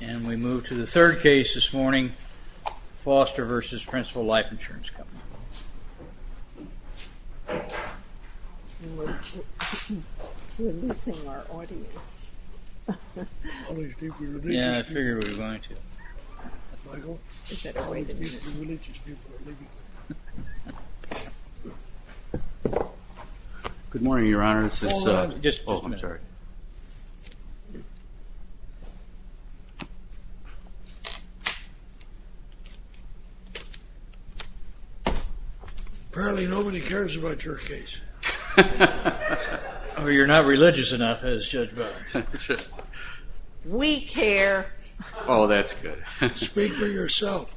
And we move to the third case this morning, Foster v. Principal Life Insurance Company. Good morning, Your Honor. Apparently, nobody cares about your case. Or you're not religious enough, as Judge Bowers. We care. Oh, that's good. Speak for yourself.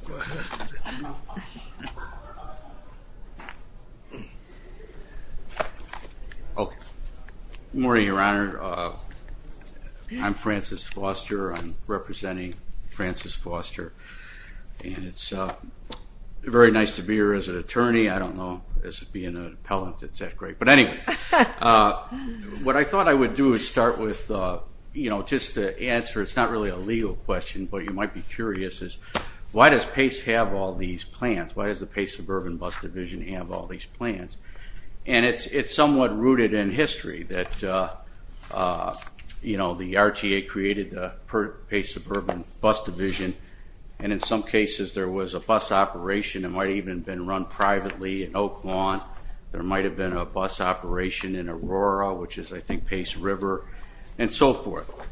Okay. Good morning, Your Honor. I'm Francis Foster. I'm representing Francis Foster. And it's very nice to be here as an attorney. I don't know, as being an appellant, it's that great. But anyway, what I thought I would do is start with, you know, just to answer, it's not really a legal question, but you might be curious, is why does PACE have all these plans? Why does the PACE Suburban Bus Division have all these plans? And it's somewhat rooted in history that, you know, the RTA created the PACE Suburban Bus Division, and in some cases there was a bus operation. It might have even been run privately in Oak Lawn. There might have been a bus operation in Aurora, which is, I think, PACE River, and so forth.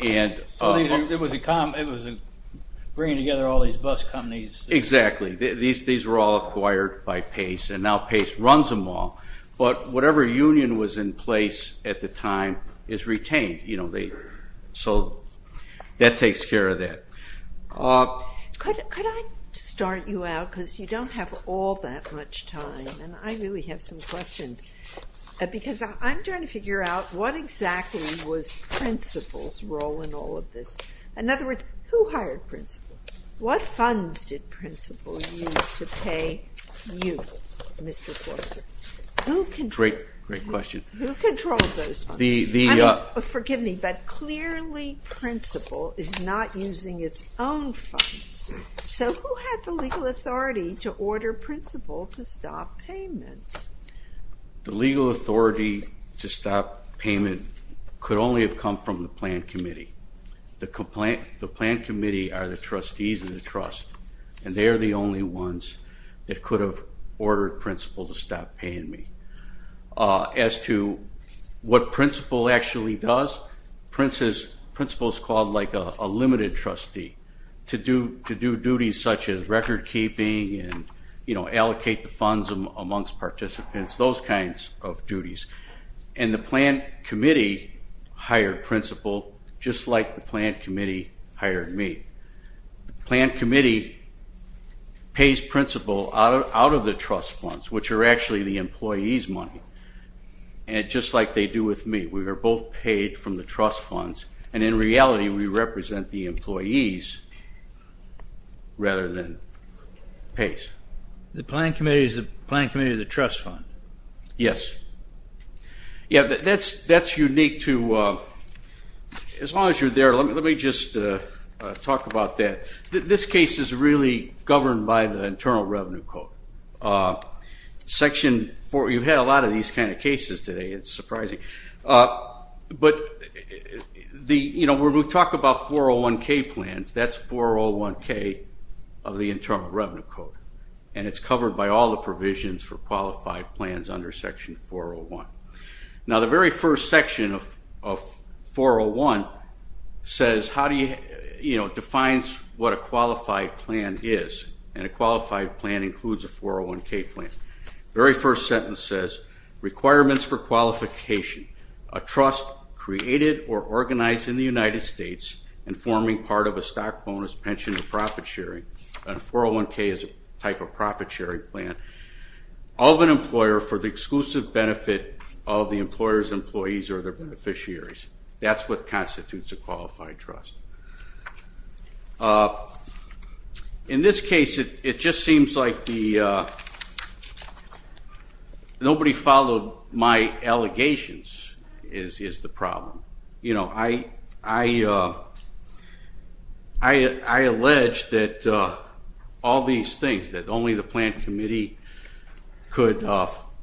So it was bringing together all these bus companies. Exactly. These were all acquired by PACE, and now PACE runs them all. But whatever union was in place at the time is retained. So that takes care of that. Could I start you out, because you don't have all that much time, and I really have some questions, because I'm trying to figure out what exactly was principals' role in all of this. In other words, who hired principals? What funds did principals use to pay you, Mr. Forster? Great question. Who controlled those funds? Forgive me, but clearly principal is not using its own funds. So who had the legal authority to order principal to stop payment? The legal authority to stop payment could only have come from the plan committee. The plan committee are the trustees of the trust, and they are the only ones that could have ordered principal to stop paying me. As to what principal actually does, principal is called like a limited trustee, to do duties such as recordkeeping and allocate the funds amongst participants, those kinds of duties. And the plan committee hired principal just like the plan committee hired me. The plan committee pays principal out of the trust funds, which are actually the employees' money, just like they do with me. We are both paid from the trust funds, and in reality we represent the employees rather than pays. The plan committee is the plan committee of the trust fund? Yes. Yeah, that's unique to as long as you're there. Let me just talk about that. This case is really governed by the Internal Revenue Code. You've had a lot of these kind of cases today. It's surprising. But when we talk about 401K plans, that's 401K of the Internal Revenue Code, and it's covered by all the provisions for qualified plans under Section 401. Now, the very first section of 401 defines what a qualified plan is, and a qualified plan includes a 401K plan. The very first sentence says, requirements for qualification, a trust created or organized in the United States and forming part of a stock, bonus, pension, or profit sharing, and a 401K is a type of profit sharing plan, of an employer for the exclusive benefit of the employer's employees or their beneficiaries. That's what constitutes a qualified trust. In this case, it just seems like nobody followed my allegations is the problem. I alleged that all these things, that only the plan committee could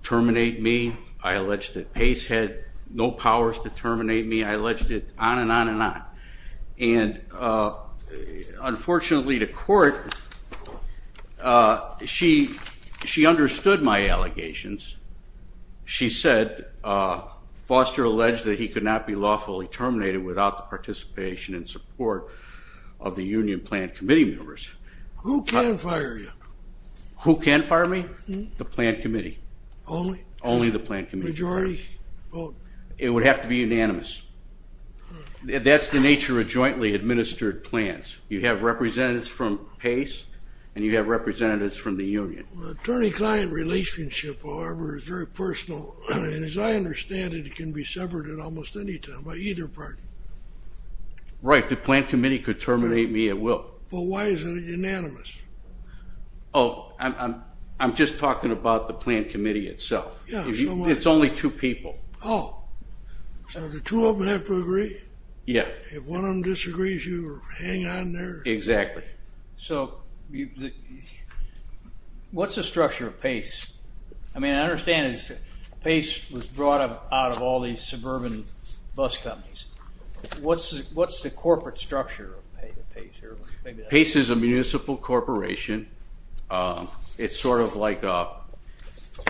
terminate me. I alleged that PACE had no powers to terminate me. I alleged it on and on and on. And unfortunately, the court, she understood my allegations. She said, Foster alleged that he could not be lawfully terminated without the participation and support of the union plan committee members. Who can fire you? Who can fire me? The plan committee. Only? Only the plan committee. Majority vote? It would have to be unanimous. That's the nature of jointly administered plans. You have representatives from PACE, and you have representatives from the union. Attorney-client relationship, however, is very personal. And as I understand it, it can be severed at almost any time by either party. Right. The plan committee could terminate me at will. But why is it unanimous? Oh, I'm just talking about the plan committee itself. It's only two people. Oh. So the two of them have to agree? Yeah. If one of them disagrees, you hang on there? Exactly. So what's the structure of PACE? I mean, I understand PACE was brought out of all these suburban bus companies. What's the corporate structure of PACE? PACE is a municipal corporation. It's sort of like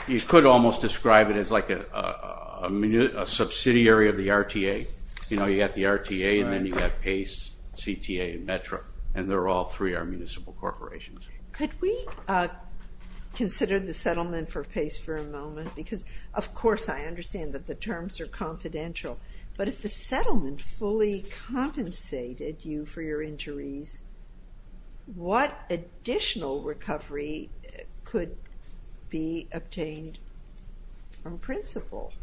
you could almost describe it as like a subsidiary of the RTA. You know, you've got the RTA, and then you've got PACE, CTA, and Metro, and they're all three are municipal corporations. Could we consider the settlement for PACE for a moment? Because, of course, I understand that the terms are confidential. But if the settlement fully compensated you for your injuries, what additional recovery could be obtained on principle?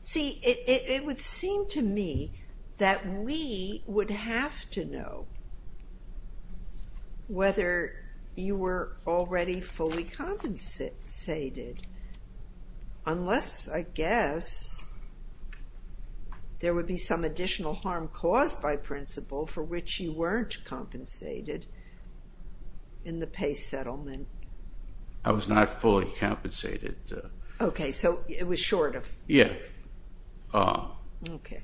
See, it would seem to me that we would have to know whether you were already fully compensated unless, I guess, there would be some additional harm caused by principle for which you weren't compensated in the PACE settlement. I was not fully compensated. Okay, so it was short of? Yeah. Okay.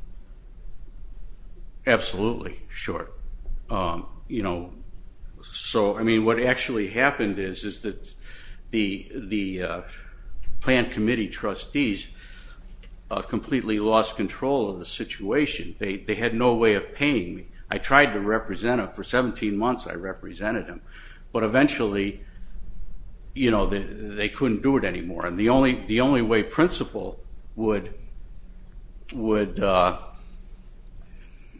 Absolutely short. So, I mean, what actually happened is that the planned committee trustees completely lost control of the situation. They had no way of paying me. I tried to represent them. For 17 months, I represented them. But eventually, you know, they couldn't do it anymore. And the only way principle would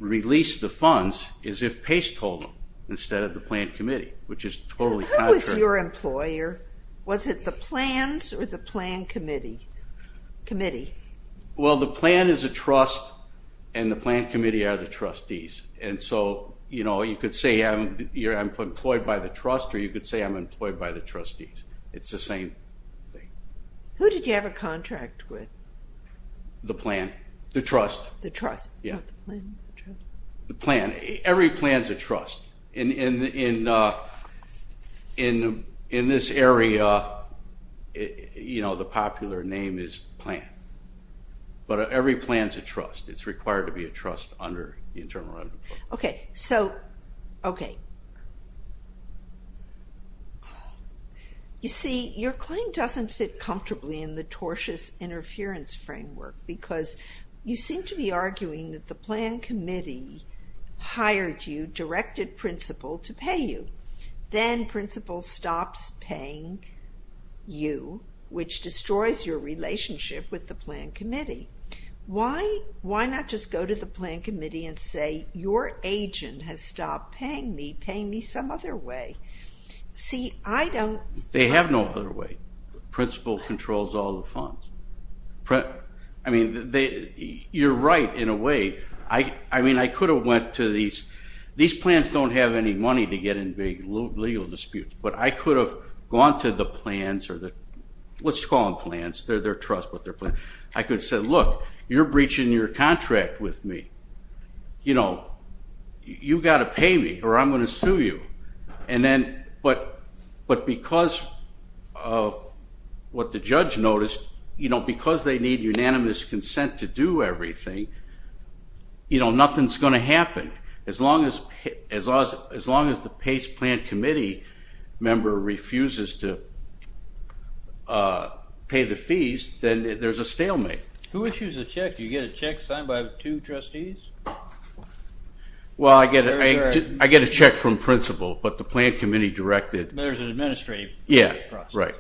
release the funds is if PACE told them instead of the planned committee, which is totally contrary. Who was your employer? Was it the plans or the planned committee? Well, the plan is a trust, and the planned committee are the trustees. And so, you know, you could say I'm employed by the trust, or you could say I'm employed by the trustees. It's the same thing. Who did you have a contract with? The plan. The trust. The trust. Yeah. The plan. Every plan's a trust. In this area, you know, the popular name is plan. But every plan's a trust. It's required to be a trust under the Internal Revenue Code. Okay. So, okay. You see, your claim doesn't fit comfortably in the tortious interference framework because you seem to be arguing that the planned committee hired you, directed principle to pay you. Then principle stops paying you, which destroys your relationship with the planned committee. Why not just go to the planned committee and say, your agent has stopped paying me, paying me some other way? See, I don't. They have no other way. Principle controls all the funds. I mean, you're right in a way. I mean, I could have went to these. These plans don't have any money to get in big legal disputes, but I could have gone to the plans or the, let's call them plans. They're trust, but they're plans. I could have said, look, you're breaching your contract with me. You know, you got to pay me or I'm going to sue you. And then, but because of what the judge noticed, you know, because they need unanimous consent to do everything, you know, nothing's going to happen. As long as the PACE planned committee member refuses to pay the fees, then there's a stalemate. Who issues a check? Do you get a check signed by two trustees? Well, I get a check from principle, but the planned committee directed. There's an administrative process. Yeah, right.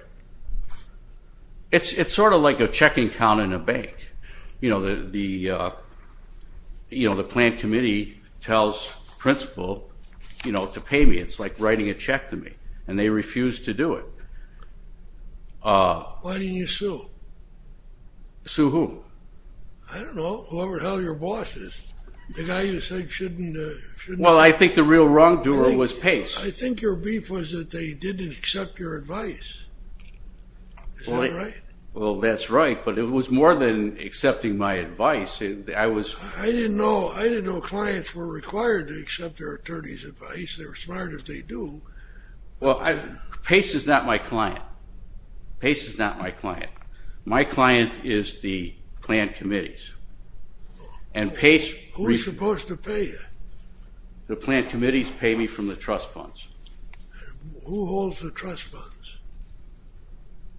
It's sort of like a checking count in a bank. You know, the planned committee tells principle, you know, to pay me. It's like writing a check to me, and they refuse to do it. Why didn't you sue? Sue who? I don't know, whoever the hell your boss is. The guy you said shouldn't have. Well, I think the real wrongdoer was PACE. I think your beef was that they didn't accept your advice. Is that right? Well, that's right, but it was more than accepting my advice. I didn't know clients were required to accept their attorney's advice. They're smart if they do. PACE is not my client. PACE is not my client. My client is the planned committees. Who's supposed to pay you? The planned committees pay me from the trust funds. Who holds the trust funds?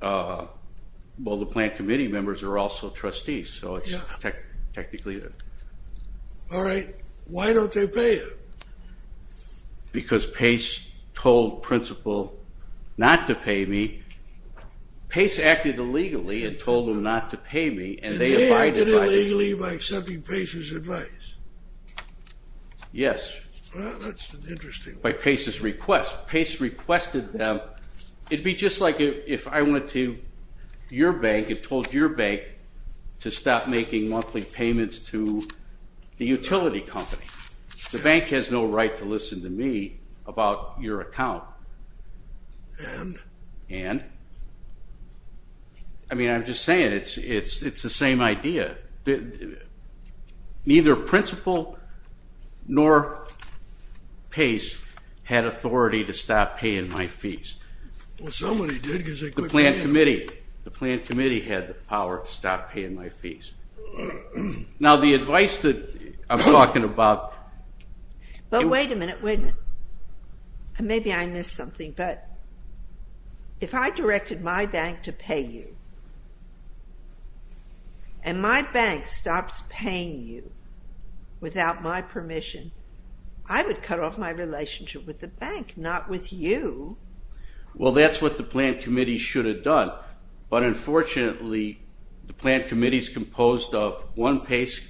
Well, the planned committee members are also trustees, so it's technically them. All right. Why don't they pay you? Because PACE told Principal not to pay me. PACE acted illegally and told him not to pay me, and they abided by that. And they acted illegally by accepting PACE's advice? Yes. Well, that's an interesting way. By PACE's request. PACE requested them. It'd be just like if I went to your bank and told your bank to stop making monthly payments to the utility company. The bank has no right to listen to me about your account. And? And? I mean, I'm just saying it's the same idea. Neither Principal nor PACE had authority to stop paying my fees. Well, somebody did because they could. The planned committee. The planned committee had the power to stop paying my fees. Now, the advice that I'm talking about. But wait a minute, wait a minute. Maybe I missed something, but if I directed my bank to pay you and my bank stops paying you without my permission, I would cut off my relationship with the bank, not with you. Well, that's what the planned committee should have done. But unfortunately, the planned committee is composed of one PACE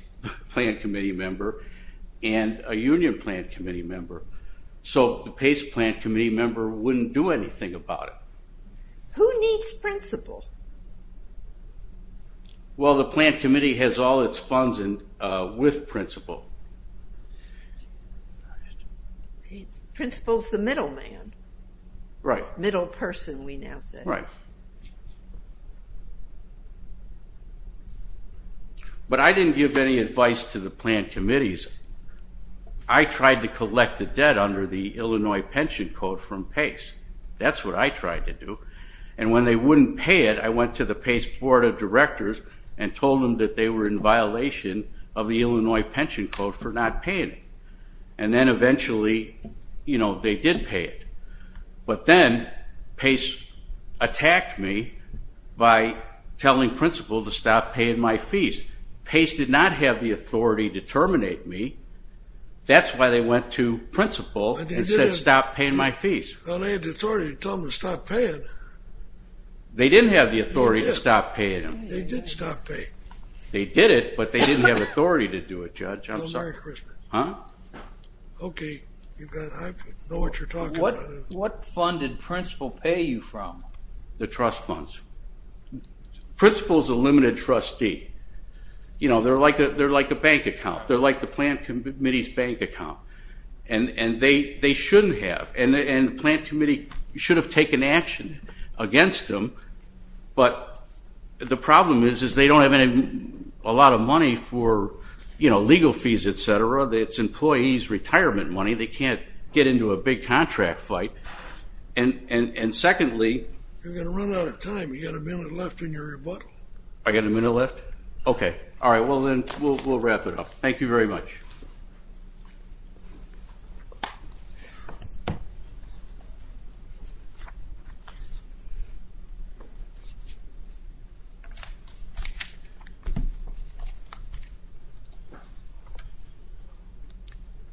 planned committee member and a union planned committee member, so the PACE planned committee member wouldn't do anything about it. Who needs Principal? Well, the planned committee has all its funds with Principal. Principal's the middle man. Right. Middle person, we now say. Right. But I didn't give any advice to the planned committees. I tried to collect the debt under the Illinois Pension Code from PACE. That's what I tried to do. And when they wouldn't pay it, I went to the PACE board of directors and told them that they were in violation of the Illinois Pension Code for not paying it. And then eventually, you know, they did pay it. But then PACE attacked me by telling Principal to stop paying my fees. PACE did not have the authority to terminate me. That's why they went to Principal and said stop paying my fees. Well, they had the authority to tell them to stop paying. They didn't have the authority to stop paying them. They did stop paying. They did it, but they didn't have authority to do it, Judge. I'm sorry. Huh? Okay, I know what you're talking about. What fund did Principal pay you from? The trust funds. Principal's a limited trustee. You know, they're like a bank account. They're like the planned committee's bank account. And they shouldn't have. And the planned committee should have taken action against them. But the problem is they don't have a lot of money for, you know, legal fees, et cetera. It's employees' retirement money. They can't get into a big contract fight. And secondly. You're going to run out of time. You've got a minute left in your rebuttal. I've got a minute left? Okay. All right, well, then we'll wrap it up. Thank you very much.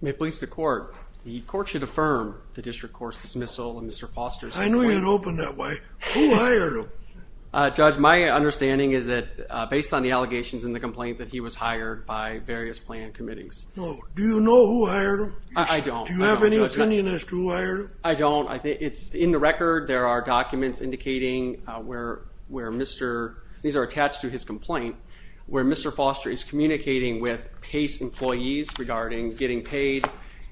May it please the court. The court should affirm the district court's dismissal of Mr. Foster's complaint. I knew you'd open that way. Who hired him? Judge, my understanding is that based on the allegations in the complaint, that he was hired by various planned committees. No. Do you know who hired him? I don't. Do you have any opinion as to who hired him? I don't. It's in the record. There are documents indicating where Mr. These are attached to his complaint, where Mr. Foster is communicating with PACE employees regarding getting paid,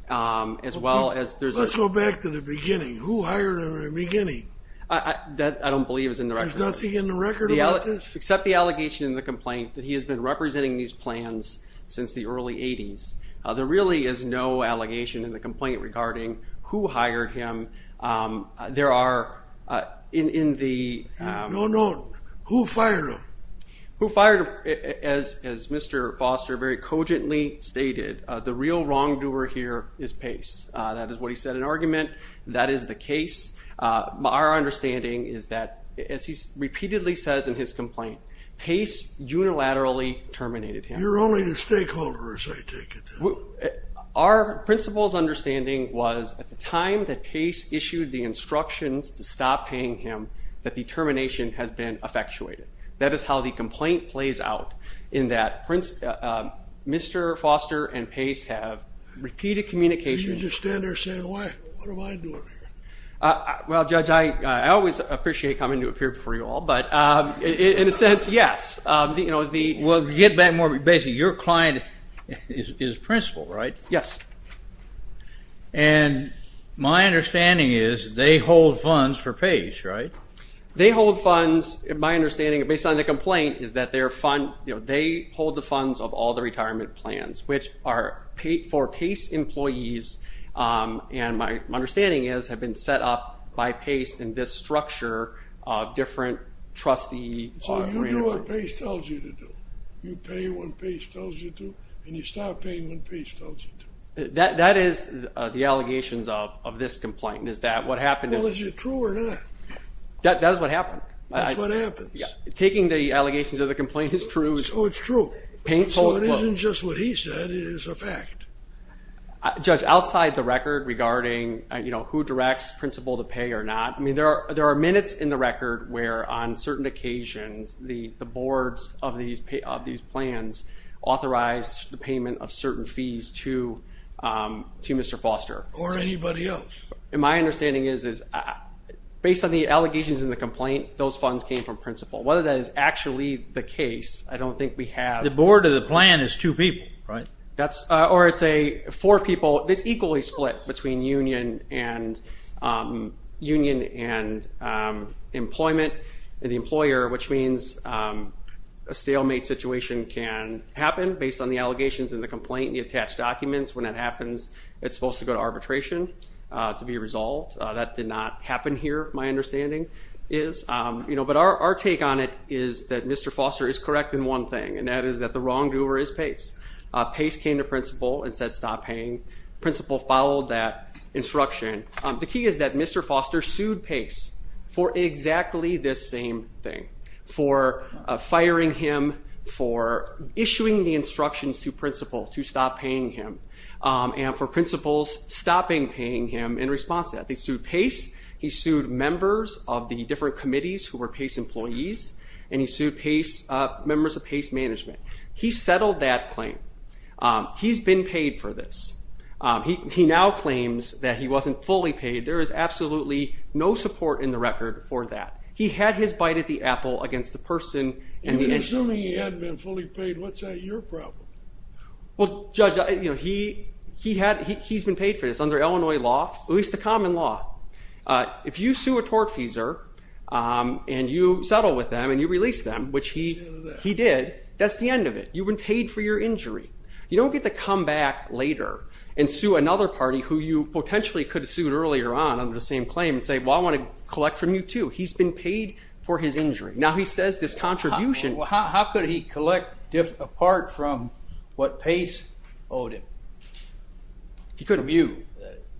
as well as there's a Let's go back to the beginning. Who hired him in the beginning? That I don't believe is in the record. There's nothing in the record about this? Except the allegation in the complaint that he has been representing these There really is no allegation in the complaint regarding who hired him. There are in the. No, no. Who fired him? Who fired him? As Mr. Foster very cogently stated, the real wrongdoer here is PACE. That is what he said in argument. That is the case. Our understanding is that, as he repeatedly says in his complaint, PACE unilaterally terminated him. You're only the stakeholder, as I take it. Our principal's understanding was, at the time that PACE issued the instructions to stop paying him, that the termination has been effectuated. That is how the complaint plays out, in that Mr. Foster and PACE have repeated communications. You just stand there saying, why? What am I doing here? Well, Judge, I always appreciate coming to a period before you all, but in a sense, yes. Well, to get back more basically, your client is principal, right? Yes. And my understanding is they hold funds for PACE, right? They hold funds, my understanding, based on the complaint, is that they hold the funds of all the retirement plans, which are for PACE employees, and my understanding is, have been set up by PACE in this structure of different trustee grants. Oh, you do what PACE tells you to do. You pay when PACE tells you to, and you stop paying when PACE tells you to. That is the allegations of this complaint, is that what happened? Well, is it true or not? That is what happened. That's what happens. Taking the allegations of the complaint is true. So it's true. So it isn't just what he said, it is a fact. Judge, outside the record regarding who directs principal to pay or not, I mean, there are minutes in the record where, on certain occasions, the boards of these plans authorized the payment of certain fees to Mr. Foster. Or anybody else. And my understanding is, based on the allegations in the complaint, those funds came from principal. Whether that is actually the case, I don't think we have. The board of the plan is two people, right? Or it's four people. It's equally split between union and employment and the employer, which means a stalemate situation can happen based on the allegations in the complaint, the attached documents. When that happens, it's supposed to go to arbitration to be resolved. That did not happen here, my understanding is. But our take on it is that Mr. Foster is correct in one thing, and that is that the wrongdoer is PACE. PACE came to principal and said stop paying. Principal followed that instruction. The key is that Mr. Foster sued PACE for exactly this same thing, for firing him, for issuing the instructions to principal to stop paying him, and for principals stopping paying him in response to that. They sued PACE. He sued members of the different committees who were PACE employees, and he sued members of PACE management. He settled that claim. He's been paid for this. He now claims that he wasn't fully paid. There is absolutely no support in the record for that. He had his bite at the apple against the person. If you're assuming he hadn't been fully paid, what's your problem? Well, Judge, he's been paid for this under Illinois law, at least the common law. If you sue a tortfeasor and you settle with them and you release them, which he did, that's the end of it. You've been paid for your injury. You don't get to come back later and sue another party who you potentially could have sued earlier on under the same claim and say, well, I want to collect from you too. He's been paid for his injury. Now he says this contribution. How could he collect apart from what PACE owed him? He could have. You.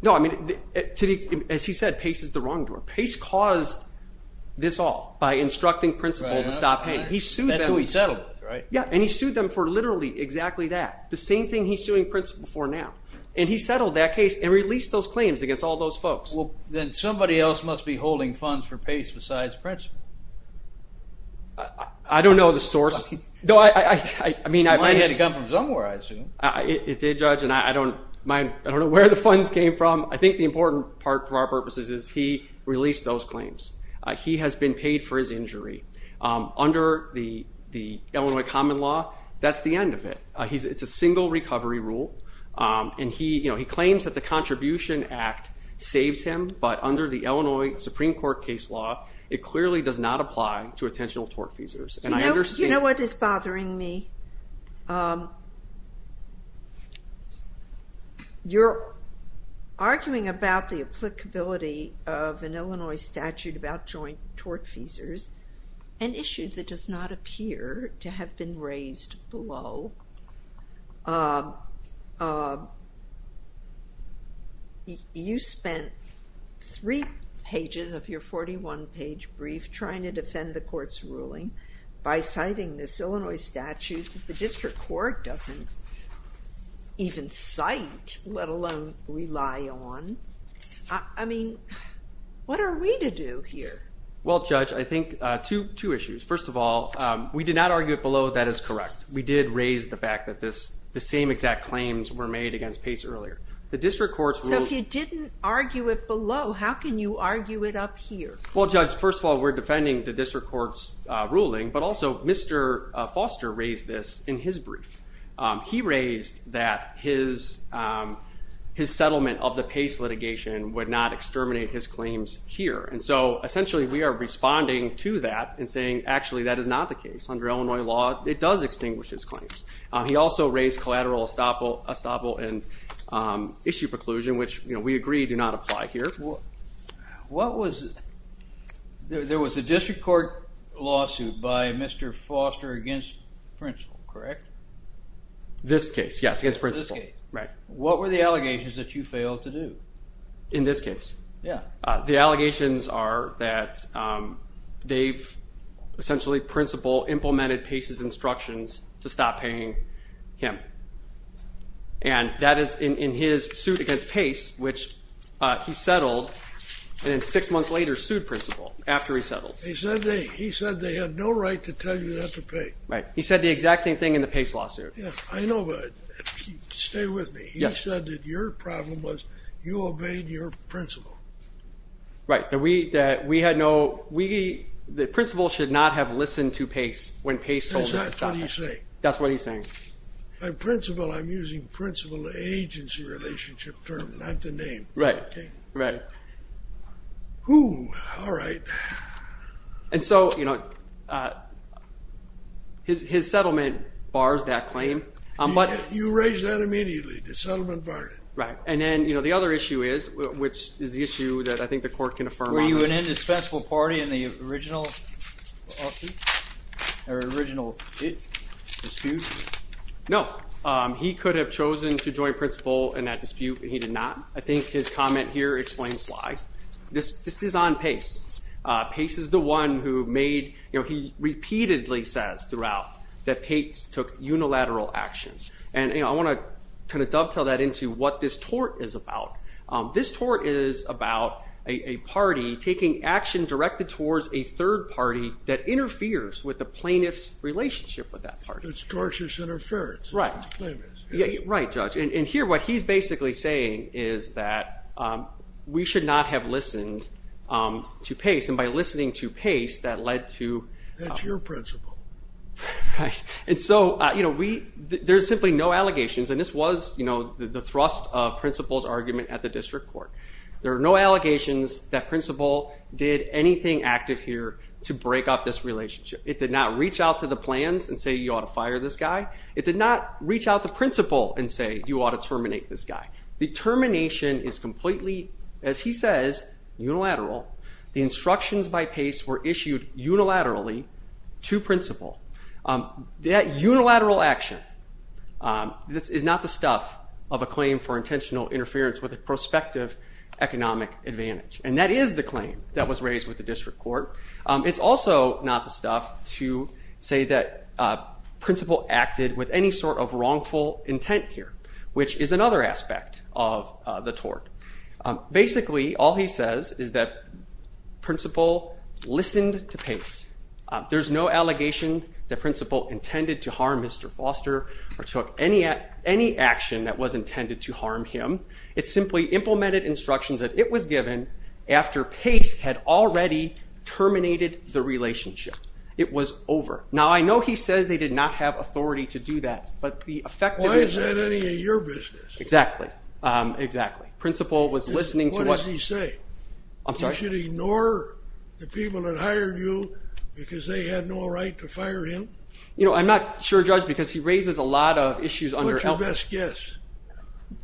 No, I mean, as he said, PACE is the wrongdoer. PACE caused this all by instructing Principal to stop paying. He sued them. That's who he settled with, right? Yeah, and he sued them for literally exactly that, the same thing he's suing Principal for now. And he settled that case and released those claims against all those folks. Well, then somebody else must be holding funds for PACE besides Principal. I don't know the source. You might have had it come from somewhere, I assume. It did, Judge, and I don't know where the funds came from. I think the important part for our purposes is he released those claims. He has been paid for his injury. Under the Illinois Common Law, that's the end of it. It's a single recovery rule, and he claims that the Contribution Act saves him, but under the Illinois Supreme Court case law, it clearly does not apply to attentional tort feasors. You know what is bothering me? You're arguing about the applicability of an Illinois statute about joint tort feasors, an issue that does not appear to have been raised below. You spent three pages of your 41-page brief trying to defend the court's ruling, but the court doesn't even cite, let alone rely on. I mean, what are we to do here? Well, Judge, I think two issues. First of all, we did not argue it below. That is correct. We did raise the fact that the same exact claims were made against PACE earlier. So if you didn't argue it below, how can you argue it up here? Well, Judge, first of all, we're defending the district court's ruling, but also Mr. Foster raised this in his brief. He raised that his settlement of the PACE litigation would not exterminate his claims here. And so, essentially, we are responding to that and saying, actually, that is not the case. Under Illinois law, it does extinguish his claims. He also raised collateral estoppel and issue preclusion, which we agree do not apply here. There was a district court lawsuit by Mr. Foster against Principal, correct? This case, yes, against Principal. What were the allegations that you failed to do? In this case. Yeah. The allegations are that they've essentially, Principal, implemented PACE's instructions to stop paying him. And that is in his suit against PACE, which he settled, and then six months later sued Principal after he settled. He said they had no right to tell you not to pay. Right. He said the exact same thing in the PACE lawsuit. Yeah. I know, but stay with me. He said that your problem was you obeyed your Principal. Right. The Principal should not have listened to PACE when PACE told him to stop paying. That's what he's saying. That's what he's saying. By Principal, I'm using Principal-agency relationship term, not the name. Right. Okay? Right. All right. And so, you know, his settlement bars that claim. You raised that immediately. The settlement barred it. Right. And then, you know, the other issue is, which is the issue that I think the court can affirm on. Were you an indispensable party in the original lawsuit, or original dispute? No. He could have chosen to join Principal in that dispute, but he did not. I think his comment here explains why. This is on PACE. PACE is the one who made, you know, he repeatedly says throughout that PACE took unilateral action. And, you know, I want to kind of dovetail that into what this tort is about. This tort is about a party taking action directed towards a third party that interferes with the plaintiff's relationship with that party. It's tortious interference. Right. Right, Judge. And here, what he's basically saying is that we should not have listened to PACE. And by listening to PACE, that led to. That's your principal. Right. And so, you know, there's simply no allegations. And this was, you know, the thrust of Principal's argument at the district court. There are no allegations that Principal did anything active here to break up this relationship. It did not reach out to the plans and say you ought to fire this guy. It did not reach out to Principal and say you ought to terminate this guy. The termination is completely, as he says, unilateral. The instructions by PACE were issued unilaterally to Principal. That unilateral action is not the stuff of a claim for intentional interference with a prospective economic advantage. And that is the claim that was raised with the district court. It's also not the stuff to say that Principal acted with any sort of wrongful intent here, which is another aspect of the tort. There's no allegation that Principal intended to harm Mr. Foster or took any action that was intended to harm him. It simply implemented instructions that it was given after PACE had already terminated the relationship. It was over. Now, I know he says they did not have authority to do that, but the effect of it. Why is that any of your business? Exactly. Exactly. Principal was listening to what. What does he say? I'm sorry? You should ignore the people that hired you because they had no right to fire him? You know, I'm not sure, Judge, because he raises a lot of issues under... What's your best guess?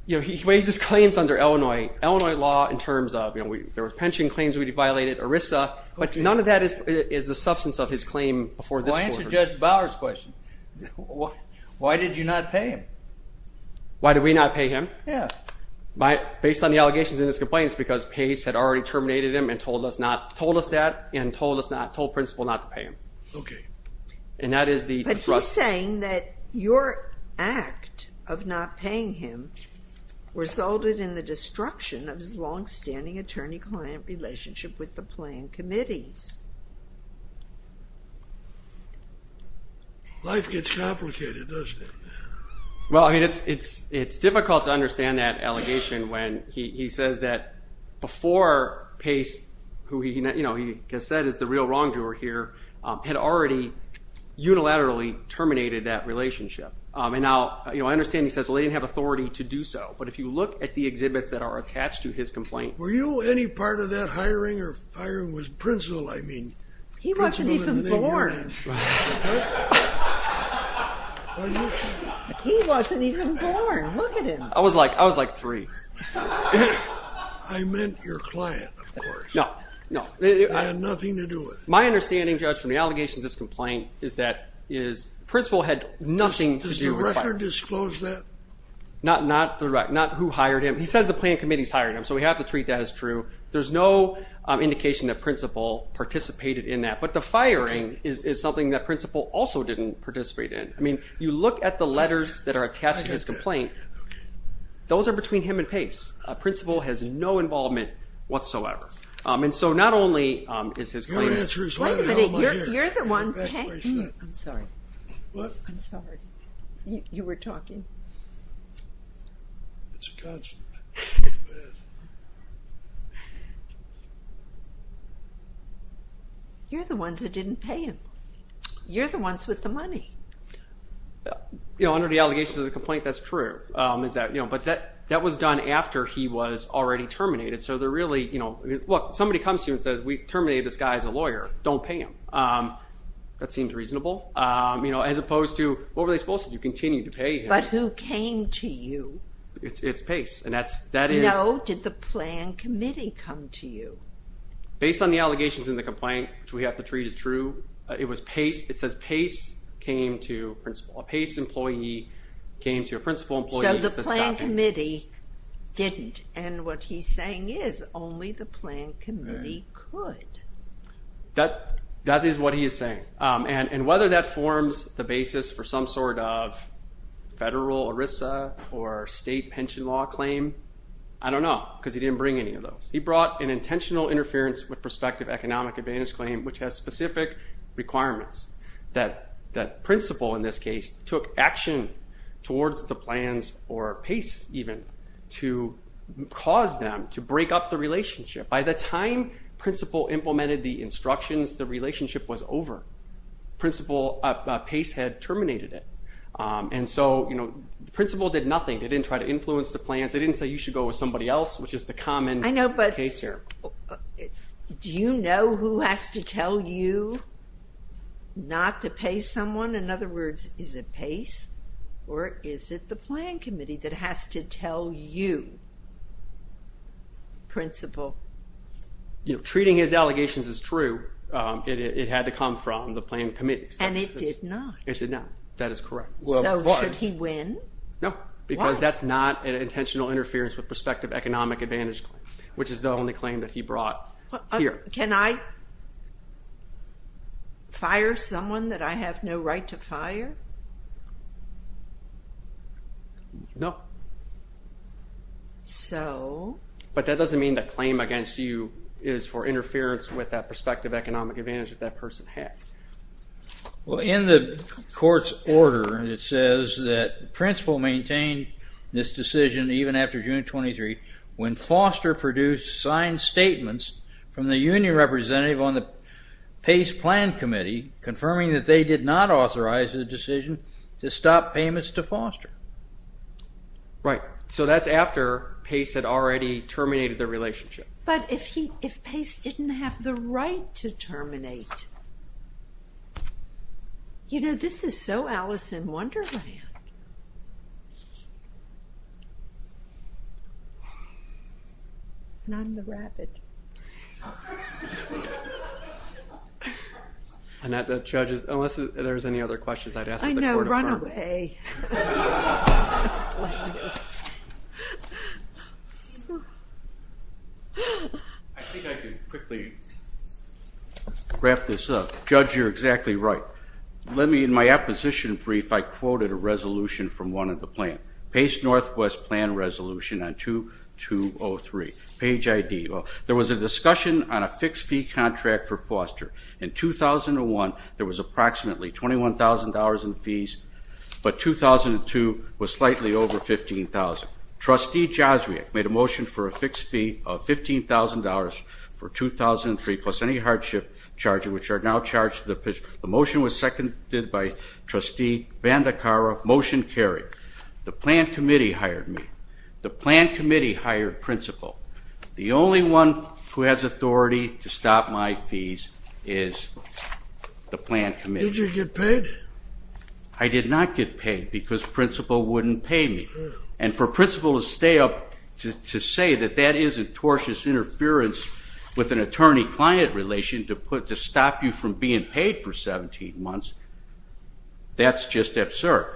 You know, he raises claims under Illinois law in terms of, you know, there were pension claims we violated, ERISA, but none of that is the substance of his claim before this court. Well, answer Judge Bower's question. Why did you not pay him? Why did we not pay him? Yeah. Based on the allegations in his complaint, it's because PACE had already terminated him and told us that and told Principal not to pay him. Okay. And that is the... But he's saying that your act of not paying him resulted in the destruction of his longstanding attorney-client relationship with the playing committees. Life gets complicated, doesn't it? Well, I mean, it's difficult to understand that allegation when he says that before PACE, who he has said is the real wrongdoer here, had already unilaterally terminated that relationship. And now, you know, I understand he says, well, they didn't have authority to do so, but if you look at the exhibits that are attached to his complaint... Were you any part of that hiring or hiring with Principal? I mean... He wasn't even born. Right. He wasn't even born. Look at him. I was like three. I meant your client, of course. No, no. It had nothing to do with... My understanding, Judge, from the allegations in this complaint is that Principal had nothing to do with... Does the record disclose that? Not the record. Not who hired him. He says the playing committees hired him, so we have to treat that as true. There's no indication that Principal participated in that. But the firing is something that Principal also didn't participate in. I mean, you look at the letters that are attached to his complaint. Those are between him and Pace. Principal has no involvement whatsoever. And so not only is his client... Your answer is... Wait a minute. You're the one... I'm sorry. What? I'm sorry. You were talking. It's a constant. It is. You're the ones that didn't pay him. You're the ones with the money. You know, under the allegations of the complaint, that's true. But that was done after he was already terminated. So they're really... Look, somebody comes to you and says, we terminated this guy as a lawyer. Don't pay him. That seems reasonable. As opposed to, what were they supposed to do? Continue to pay him. But who came to you? It's Pace. And that is... No? Or did the plan committee come to you? Based on the allegations in the complaint, which we have to treat as true, it was Pace. It says Pace came to... A Pace employee came to a principal employee. So the plan committee didn't. And what he's saying is only the plan committee could. That is what he is saying. And whether that forms the basis for some sort of federal ERISA or state pension law claim, I don't know, because he didn't bring any of those. He brought an intentional interference with prospective economic advantage claim, which has specific requirements. That principal, in this case, took action towards the plans, or Pace even, to cause them to break up the relationship. By the time principal implemented the instructions, the relationship was over. Principal Pace had terminated it. And so the principal did nothing. They didn't try to influence the plans. They didn't say you should go with somebody else, which is the common case here. I know, but do you know who has to tell you not to pay someone? In other words, is it Pace or is it the plan committee that has to tell you, principal? Treating his allegations as true, it had to come from the plan committee. And it did not. It did not. That is correct. So should he win? No. Why? Because that's not an intentional interference with prospective economic advantage claim, which is the only claim that he brought here. Can I fire someone that I have no right to fire? No. So? But that doesn't mean the claim against you is for interference with that prospective economic advantage that that person had. Well, in the court's order, it says that the principal maintained this decision even after June 23 when Foster produced signed statements from the union representative on the Pace plan committee confirming that they did not authorize the decision to stop payments to Foster. Right. So that's after Pace had already terminated the relationship. But if Pace didn't have the right to terminate, you know, this is so Alice in Wonderland. And I'm the rabbit. Annette, the judge is, unless there's any other questions, I know, run away. I think I can quickly wrap this up. Judge, you're exactly right. Let me, in my apposition brief, I quoted a resolution from one of the plan. Pace Northwest plan resolution on 2203. Page ID. There was a discussion on a fixed fee contract for Foster. In 2001, there was approximately $21,000 in fees. But 2002 was slightly over $15,000. Trustee Joswiak made a motion for a fixed fee of $15,000 for 2003, plus any hardship charges, which are now charged. The motion was seconded by Trustee Bandekara. Motion carried. The plan committee hired me. The plan committee hired principal. The only one who has authority to stop my fees is the plan committee. Did you get paid? I did not get paid because principal wouldn't pay me. And for principal to stay up to say that that is a tortuous interference with an attorney-client relation to stop you from being paid for 17 months, that's just absurd.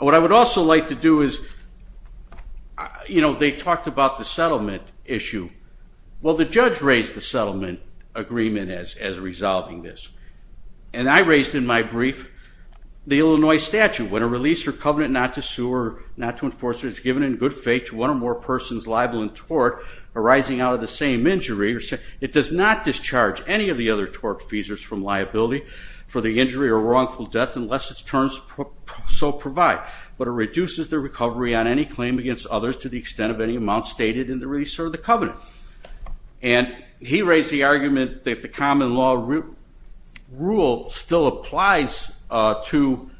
What I would also like to do is, you know, they talked about the settlement issue. Well, the judge raised the settlement agreement as resolving this. And I raised in my brief the Illinois statute. When a release or covenant not to sue or not to enforce is given in good faith to one or more persons liable in tort arising out of the same injury, it does not discharge any of the other tort feasors from liability for the so provide. But it reduces the recovery on any claim against others to the extent of any amount stated in the release or the covenant. And he raised the argument that the common law rule still applies to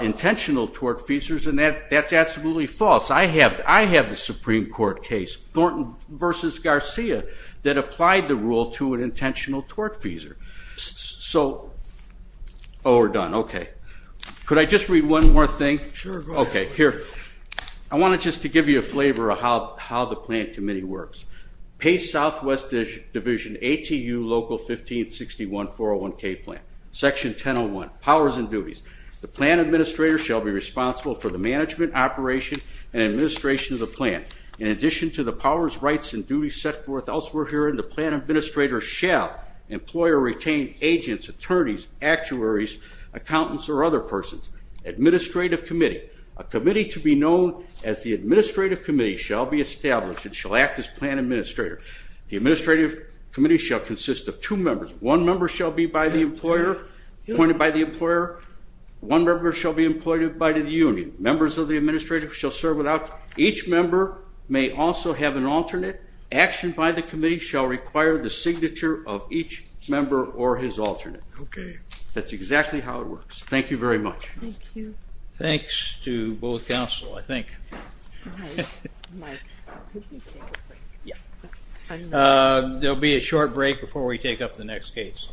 intentional tort feasors, and that's absolutely false. I have the Supreme Court case, Thornton v. Garcia, that applied the rule to an intentional tort feasor. So, oh, we're done. Okay. Could I just read one more thing? Sure, go ahead. Okay, here. I wanted just to give you a flavor of how the plan committee works. Pace Southwest Division, ATU Local 1561-401K Plan. Section 1001, Powers and Duties. The plan administrator shall be responsible for the management, operation, and administration of the plan. In addition to the powers, rights, and duties set forth elsewhere herein, the plan administrator shall employ or retain agents, attorneys, actuaries, accountants, or other persons. Administrative committee. A committee to be known as the administrative committee shall be established and shall act as plan administrator. The administrative committee shall consist of two members. One member shall be by the employer, appointed by the employer. One member shall be employed by the union. Members of the administrative shall serve without. Each member may also have an alternate. Action by the committee shall require the signature of each member or his alternate. Okay. That's exactly how it works. Thank you very much. Thank you. Thanks to both counsel, I think. Mike. Mike. Could we take a break? Yeah. There will be a short break before we take up the next case.